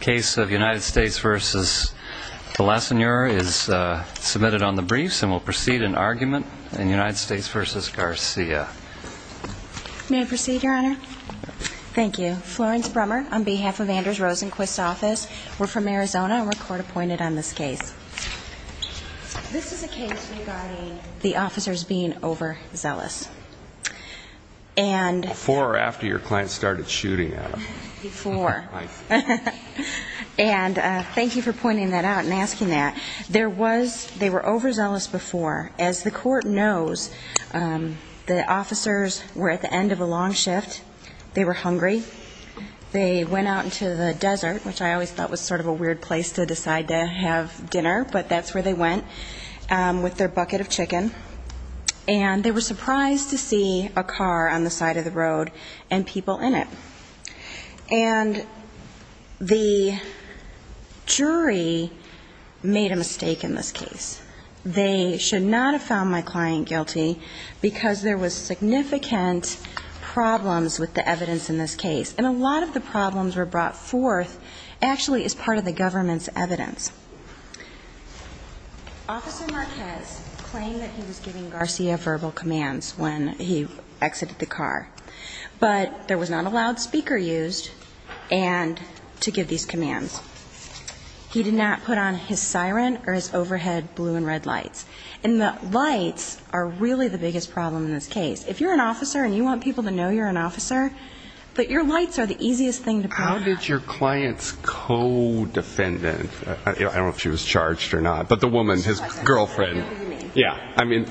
Case of United States v. Balesenor is submitted on the briefs and will proceed in argument in United States v. Garcia. May I proceed, Your Honor? Thank you. Florence Brummer on behalf of Andrews Rosenquist's office. We're from Arizona and we're court appointed on this case. This is a case regarding the officers being overzealous. Before or after your client started shooting at them? Before. And thank you for pointing that out and asking that. They were overzealous before. As the court knows, the officers were at the end of a long shift. They were hungry. They went out into the desert, which I always thought was sort of a weird place to decide to have dinner, but that's where they went, with their bucket of chicken. And they were surprised to see a car on the side of the road and people in it. And the jury made a mistake in this case. They should not have found my client guilty because there was significant problems with the evidence in this case. And a lot of the problems were brought forth actually as part of the government's evidence. Officer Marquez claimed that he was giving Garcia verbal commands when he exited the car. But there was not a loud speaker used to give these commands. He did not put on his siren or his overhead blue and red lights. And the lights are really the biggest problem in this case. If you're an officer and you want people to know you're an officer, but your lights are the easiest thing to put on. How did your client's co-defendant, I don't know if she was charged or not, but the woman, his girlfriend. Yeah. I mean,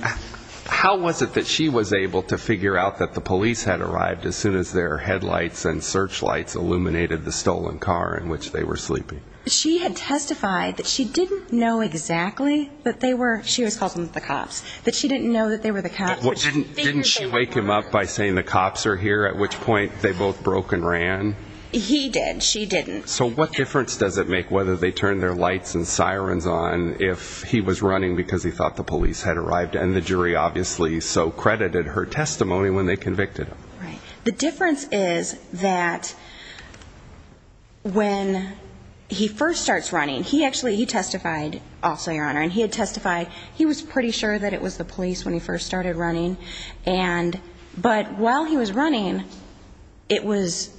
how was it that she was able to figure out that the police had arrived as soon as their headlights and searchlights illuminated the stolen car in which they were sleeping? She had testified that she didn't know exactly that they were, she was calling them the cops, that she didn't know that they were the cops. Didn't she wake him up by saying the cops are here, at which point they both broke and ran? He did. She didn't. So what difference does it make whether they turned their lights and sirens on if he was running because he thought the police had arrived? And the jury obviously so credited her testimony when they convicted him. Right. The difference is that when he first starts running, he actually, he testified also, Your Honor. And he had testified, he was pretty sure that it was the police when he first started running. But while he was running, it was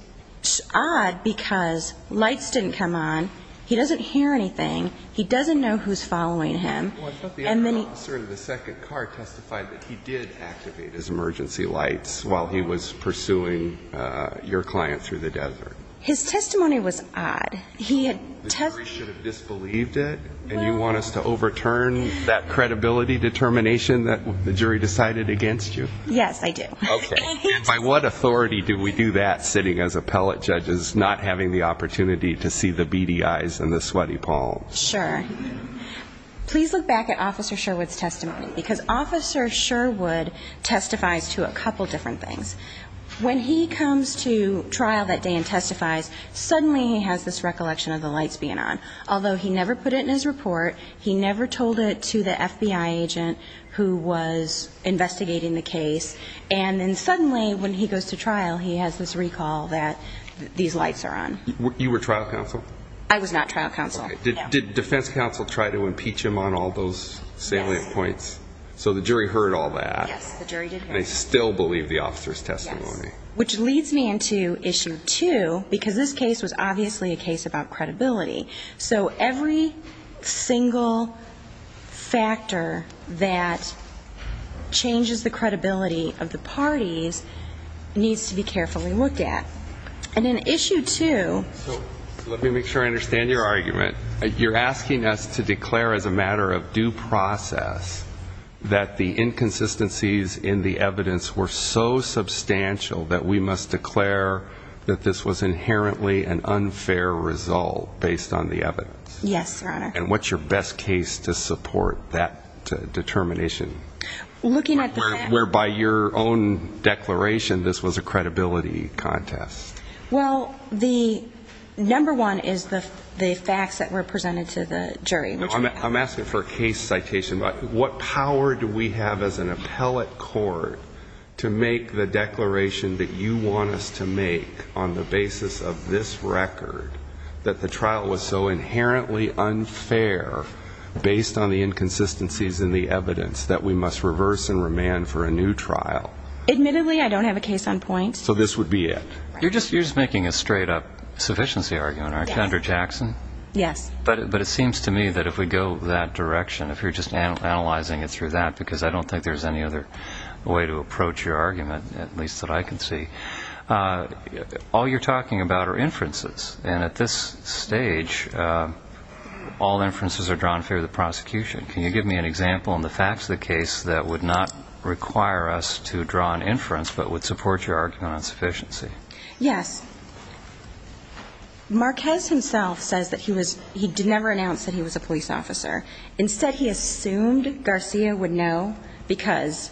odd because lights didn't come on, he doesn't hear anything, he doesn't know who's following him. Well, I thought the other officer in the second car testified that he did activate his emergency lights while he was pursuing your client through the desert. His testimony was odd. The jury should have disbelieved it and you want us to overturn that credibility determination that the jury decided against you? Yes, I do. Okay. And by what authority do we do that sitting as appellate judges not having the opportunity to see the beady eyes and the sweaty palms? Sure. Please look back at Officer Sherwood's testimony because Officer Sherwood testifies to a couple different things. When he comes to trial that day and testifies, suddenly he has this recollection of the lights being on. Although he never put it in his report, he never told it to the FBI agent who was investigating the case. And then suddenly when he goes to trial, he has this recall that these lights are on. You were trial counsel? I was not trial counsel. Okay. Did defense counsel try to impeach him on all those salient points? So the jury heard all that. Yes, the jury did hear it. And they still believe the officer's testimony? Yes. Which leads me into Issue 2 because this case was obviously a case about credibility. So every single factor that changes the credibility of the parties needs to be carefully looked at. And in Issue 2... So let me make sure I understand your argument. You're asking us to declare as a matter of due process that the inconsistencies in the evidence were so substantial that we must declare that this was inherently an unfair result based on the evidence. Yes, Your Honor. And what's your best case to support that determination? Looking at the facts... Whereby your own declaration this was a credibility contest. Well, the number one is the facts that were presented to the jury. I'm asking for a case citation. What power do we have as an appellate court to make the declaration that you want us to make on the basis of this record that the trial was so inherently unfair based on the inconsistencies in the evidence that we must reverse and remand for a new trial? Admittedly, I don't have a case on point. So this would be it? You're just making a straight-up sufficiency argument, aren't you, Under Jackson? Yes. But it seems to me that if we go that direction, if you're just analyzing it through that, because I don't think there's any other way to approach your argument, at least that I can see, all you're talking about are inferences. And at this stage, all inferences are drawn through the prosecution. Can you give me an example in the facts of the case that would not require us to draw an inference but would support your argument on sufficiency? Yes. Marquez himself says that he never announced that he was a police officer. Instead, he assumed Garcia would know because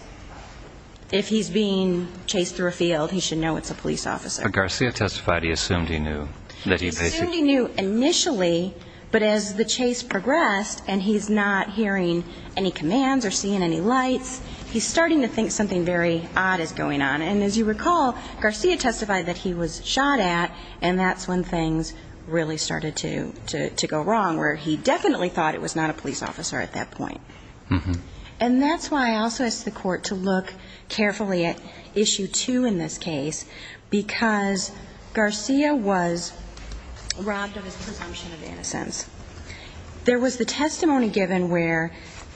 if he's being chased through a field, he should know it's a police officer. But Garcia testified he assumed he knew. He assumed he knew initially, but as the chase progressed and he's not hearing any commands or seeing any lights, he's starting to think something very odd is going on. And as you recall, Garcia testified that he was shot at, and that's when things really started to go wrong, where he definitely thought it was not a police officer at that point. And that's why I also ask the Court to look carefully at Issue 2 in this case, because Garcia was robbed of his presumption of innocence. There was the testimony given where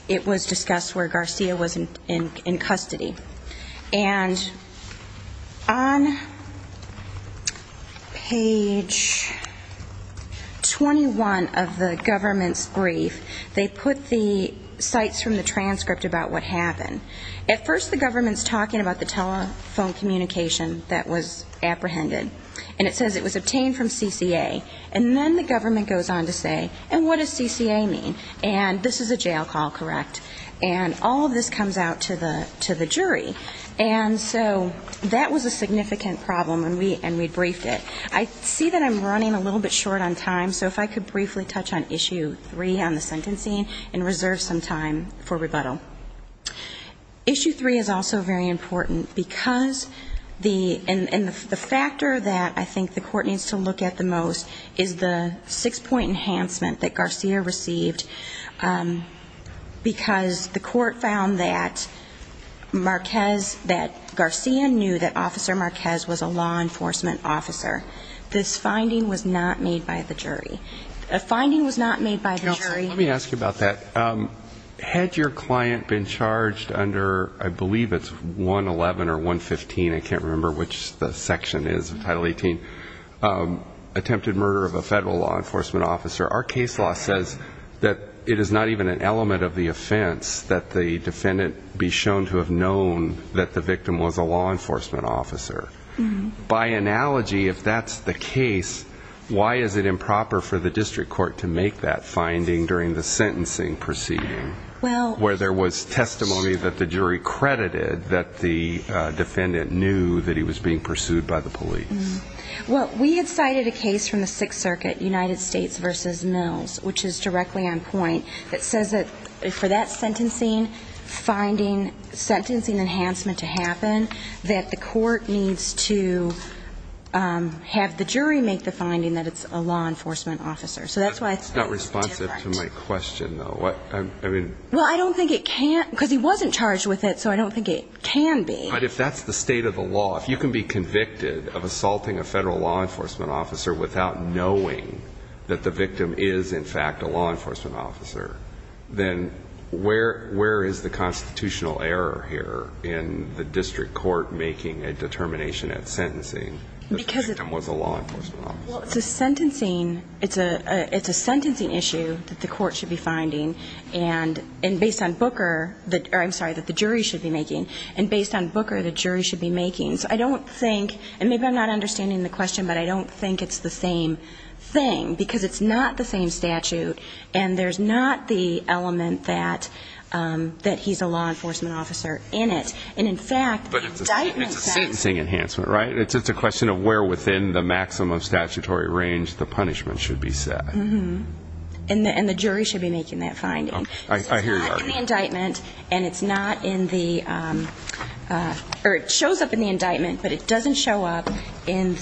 it was discussed where Garcia was in custody. And on page 21 of the government's brief, they put the cites from the transcript about what happened. At first, the government's talking about the telephone communication that was apprehended, and it says it was obtained from CCA. And then the government goes on to say, and what does CCA mean? And this is a jail call, correct? And all of this comes out to the jury. And so that was a significant problem, and we briefed it. I see that I'm running a little bit short on time, so if I could briefly touch on Issue 3 on the sentencing and reserve some time for rebuttal. Issue 3 is also very important, and the factor that I think the Court needs to look at the most is the six-point enhancement that Garcia received, because the Court found that Garcia knew that Officer Marquez was a law enforcement officer. This finding was not made by the jury. A finding was not made by the jury. Counsel, let me ask you about that. Had your client been charged under, I believe it's 111 or 115, I can't remember which the section is, Title 18, attempted murder of a federal law enforcement officer, our case law says that it is not even an element of the offense that the defendant be shown to have known that the victim was a law enforcement officer. By analogy, if that's the case, why is it improper for the district court to make that finding during the sentencing proceeding, where there was testimony that the jury credited that the defendant knew that he was being pursued by the police? Well, we had cited a case from the Sixth Circuit, United States v. Mills, which is directly on point, that says that for that sentencing finding, sentencing enhancement to happen, that the court needs to have the jury make the finding that it's a law enforcement officer. So that's why it's different. That's not responsive to my question, though. Well, I don't think it can, because he wasn't charged with it, so I don't think it can be. But if that's the state of the law, if you can be convicted of assaulting a federal law enforcement officer without knowing that the victim is, in fact, a law enforcement officer, then where is the constitutional error here in the district court making a determination at sentencing that the victim was a law enforcement officer? Well, it's a sentencing issue that the court should be finding, and based on Booker the jury should be making. And based on Booker, the jury should be making. So I don't think, and maybe I'm not understanding the question, but I don't think it's the same thing, because it's not the same statute, and there's not the element that he's a law enforcement officer in it. And, in fact, the indictment says... But it's a sentencing enhancement, right? It's just a question of where within the maximum statutory range the punishment should be set. Mm-hmm. And the jury should be making that finding. I hear you. It's not in the indictment, and it's not in the or it shows up in the indictment, but it doesn't show up in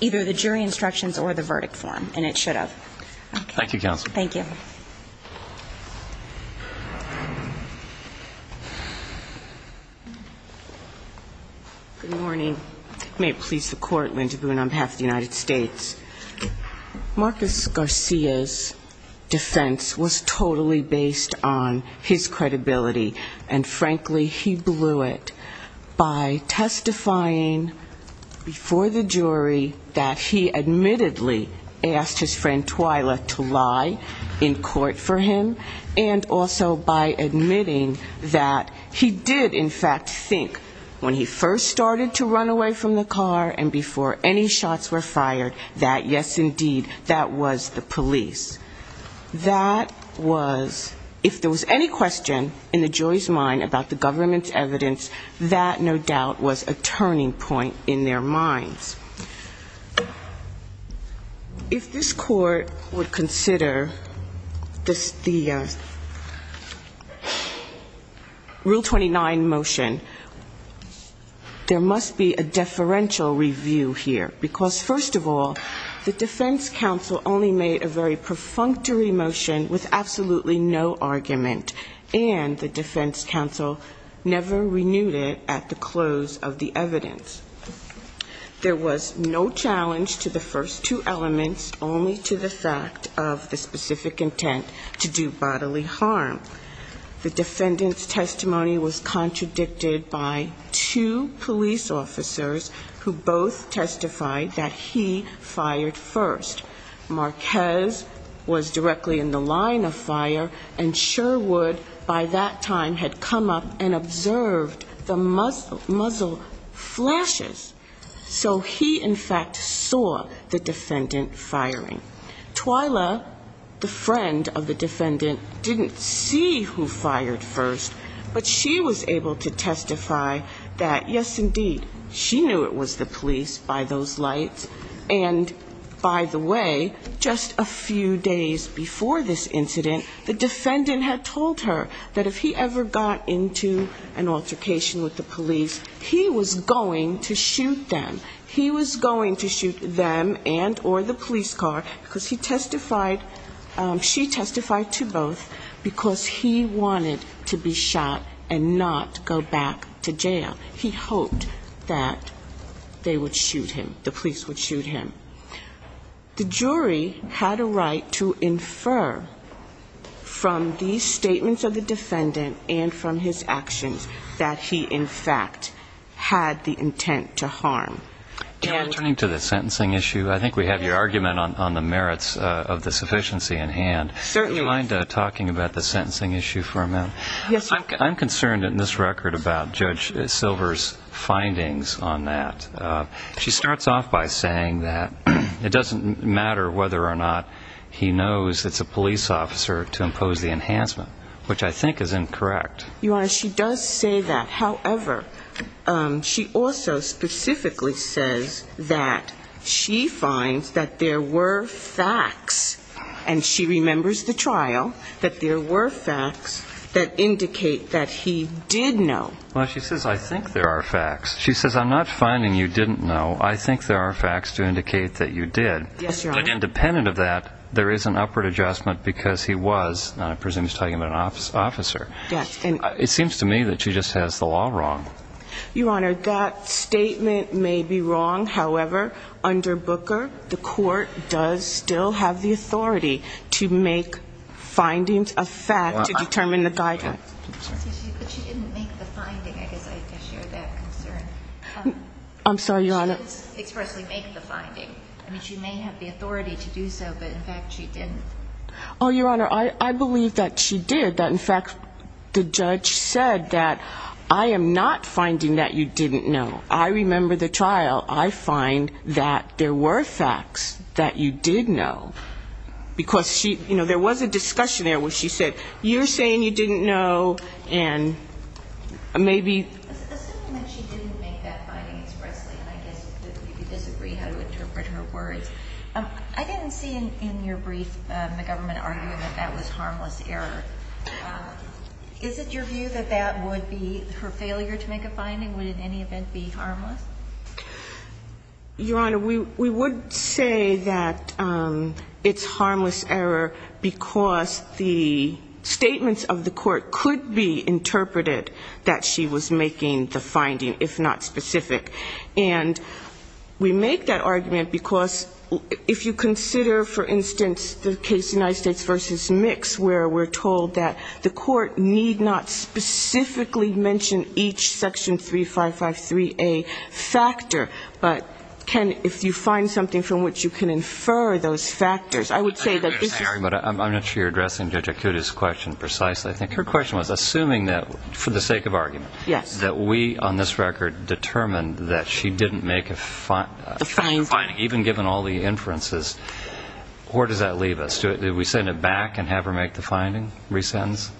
either the jury instructions or the verdict form, and it should have. Thank you, Counsel. Thank you. Good morning. May it please the Court, Linda Boone on behalf of the United States. Marcus Garcia's defense was totally based on his credibility, and, frankly, he blew it by testifying before the jury that he admittedly asked his friend Twyla to lie in court for him, and also by admitting that he did, in fact, think when he first started to run away from the car and before any shots were fired that, yes, indeed, that was the police. That was, if there was any question in the jury's mind about the government's evidence, that no doubt was a turning point in their minds. If this Court would consider the Rule 29 motion, there must be a deferential review here, because, first of all, the defense counsel only made a very perfunctory motion with absolutely no argument, and the defense counsel never renewed it at the close of the evidence. There was no challenge to the first two elements, only to the fact of the specific intent to do bodily harm. The defendant's testimony was contradicted by two police officers who both testified in favor of Twyla, and also testified that he fired first. Marquez was directly in the line of fire, and Sherwood, by that time, had come up and observed the muzzle flashes, so he, in fact, saw the defendant firing. Twyla, the friend of the defendant, didn't see who fired first, but she was able to testify that, yes, indeed, she knew it was the police by those lights. And, by the way, just a few days before this incident, the defendant had told her that if he ever got into an altercation with the police, he was going to shoot them. He was going to shoot them and or the police car, because he testified, she testified to both, because he wanted to be shot. And not go back to jail. He hoped that they would shoot him, the police would shoot him. The jury had a right to infer from these statements of the defendant and from his actions that he, in fact, had the intent to harm. And turning to the sentencing issue, I think we have your argument on the merits of the sufficiency in hand. You mind talking about the sentencing issue for a minute? I'm concerned in this record about Judge Silver's findings on that. She starts off by saying that it doesn't matter whether or not he knows it's a police officer to impose the enhancement, which I think is incorrect. Your Honor, she does say that. However, she also specifically says that she finds that there were facts, that there were facts that indicate that he did know. Well, she says, I think there are facts. She says, I'm not finding you didn't know. I think there are facts to indicate that you did. But independent of that, there is an upward adjustment because he was, I presume she's talking about an officer. It seems to me that she just has the law wrong. Your Honor, that statement may be wrong. However, under Booker, the court does still have the authority to make findings of facts to determine the guidance. But she didn't make the finding. I guess I share that concern. I'm sorry, Your Honor. She didn't expressly make the finding. I mean, she may have the authority to do so, but in fact, she didn't. Oh, Your Honor, I believe that she did, that in fact the judge said that I am not finding that you didn't know. I remember the trial. I find that there were facts that you did know. Because she, you know, there was a discussion there where she said, you're saying you didn't know, and maybe. Assuming that she didn't make that finding expressly, I guess we could disagree how to interpret her words. I didn't see in your brief the government argument that that was harmless error. Is it your view that that would be her failure to make a finding? Would it in any event be harmless? Your Honor, we would say that it's harmless error because the statements of the court could be interpreted that she was making the finding, if not specific. And we make that argument because if you consider, for instance, the case United States v. Mix, where we're told that the court need not specifically mention each Section 3553A factor, but can, if you find something from which you can infer those factors, I would say that this is. I'm not sure you're addressing Judge Akuta's question precisely. I think her question was assuming that, for the sake of argument. Yes. That we, on this record, determined that she didn't make a finding, even given all the inferences. Where does that leave us? Do we send it back and have her make the finding? Resentence?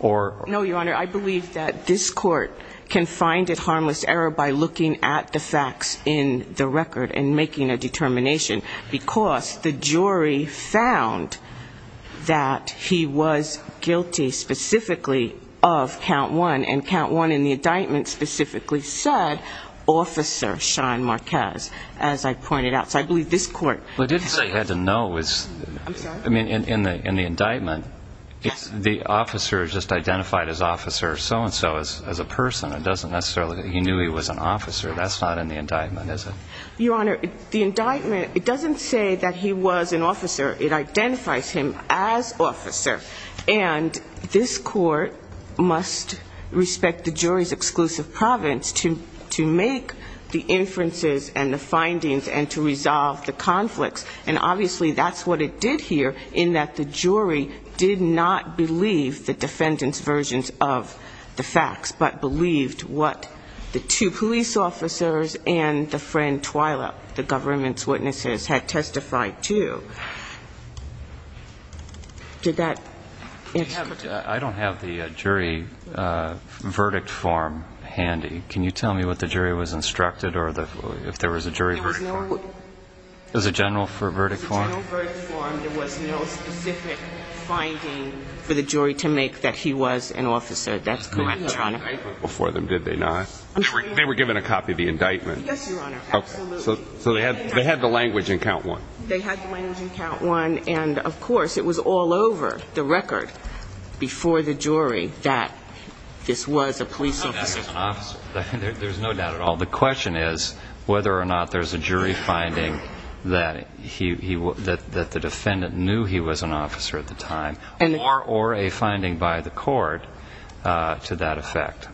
No, Your Honor. I believe that this court can find it harmless error by looking at the facts in the record and making a determination. Because the jury found that he was guilty specifically of count one. And count one in the indictment specifically said, Officer Sean Marquez, as I pointed out. So I believe this court... Well, it didn't say he had to know. I mean, in the indictment, the officer just identified as officer so-and-so as a person. It doesn't necessarily... He knew he was an officer. That's not in the indictment, is it? Your Honor, the indictment, it doesn't say that he was an officer. It identifies him as officer. And this court must respect the jury's exclusive providence to make the inferences and the findings and to resolve the conflicts. And obviously that's what it did here, in that the jury did not believe the defendant's versions of the facts, but believed what the two police officers and the friend Twyla, the government's witnesses, had testified to. I don't have the jury verdict form handy. Can you tell me what the jury was instructed or if there was a jury verdict form? There was a general verdict form. There was no specific finding for the jury to make that he was an officer. That's correct, Your Honor. They were given a copy of the indictment. Yes, Your Honor, absolutely. So they had the language in count one. They had the language in count one, and of course, it was all over the record before the jury that this was a police officer. There's no doubt at all. The question is whether or not there's a jury finding that the defendant knew he was an officer at the time, or a finding by the court to that effect.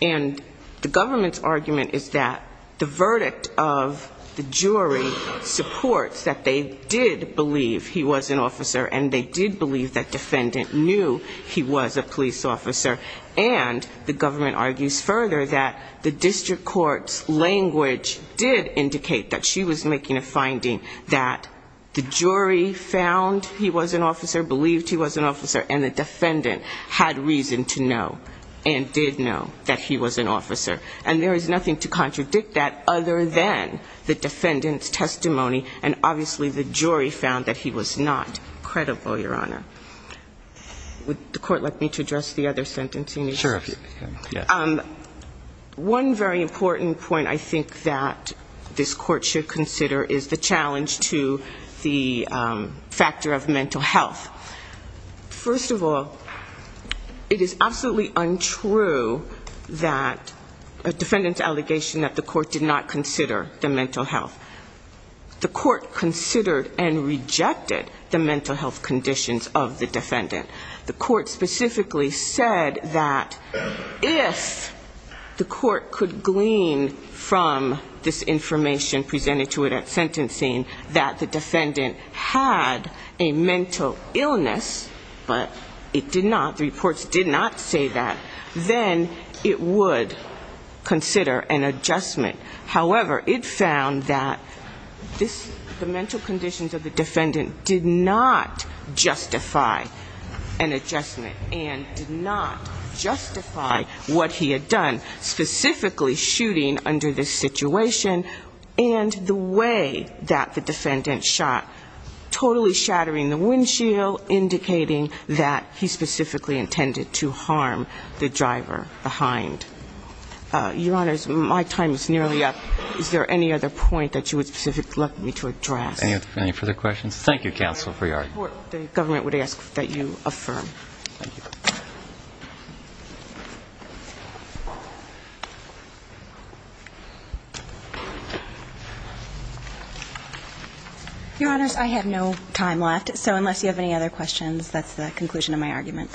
And the government's argument is that the verdict of the jury supports that they did believe he was an officer, and they did believe that defendant knew he was a police officer, and the government argues further that the district court's language did indicate that she was making a finding that the jury found he was an officer, believed he was an officer, and the defendant had reason to know and did know. And there is nothing to contradict that other than the defendant's testimony, and obviously the jury found that he was not credible, Your Honor. Would the court like me to address the other sentencing issues? Sure. One very important point I think that this court should consider is the challenge to the factor of mental health. First of all, it is absolutely untrue that a defendant's allegation that the court did not consider the mental health. The court considered and rejected the mental health conditions of the defendant. The court specifically said that if the court could glean from this information presented to it at sentencing, that the defendant had a mental illness, that the court should consider the mental health conditions of the defendant. If the court could glean from the mental illness, but it did not, the reports did not say that, then it would consider an adjustment. However, it found that this, the mental conditions of the defendant did not justify an adjustment and did not justify what he had done, specifically shooting under this situation and the way that the defendant shot, totally shattering the windshield. So indicating that he specifically intended to harm the driver behind. Your Honors, my time is nearly up. Is there any other point that you would specifically like me to address? Any further questions? Thank you, Counsel Friard. The court, the government would ask that you affirm. Your Honors, I have no time left, so unless you have any other questions, that's the conclusion of my argument.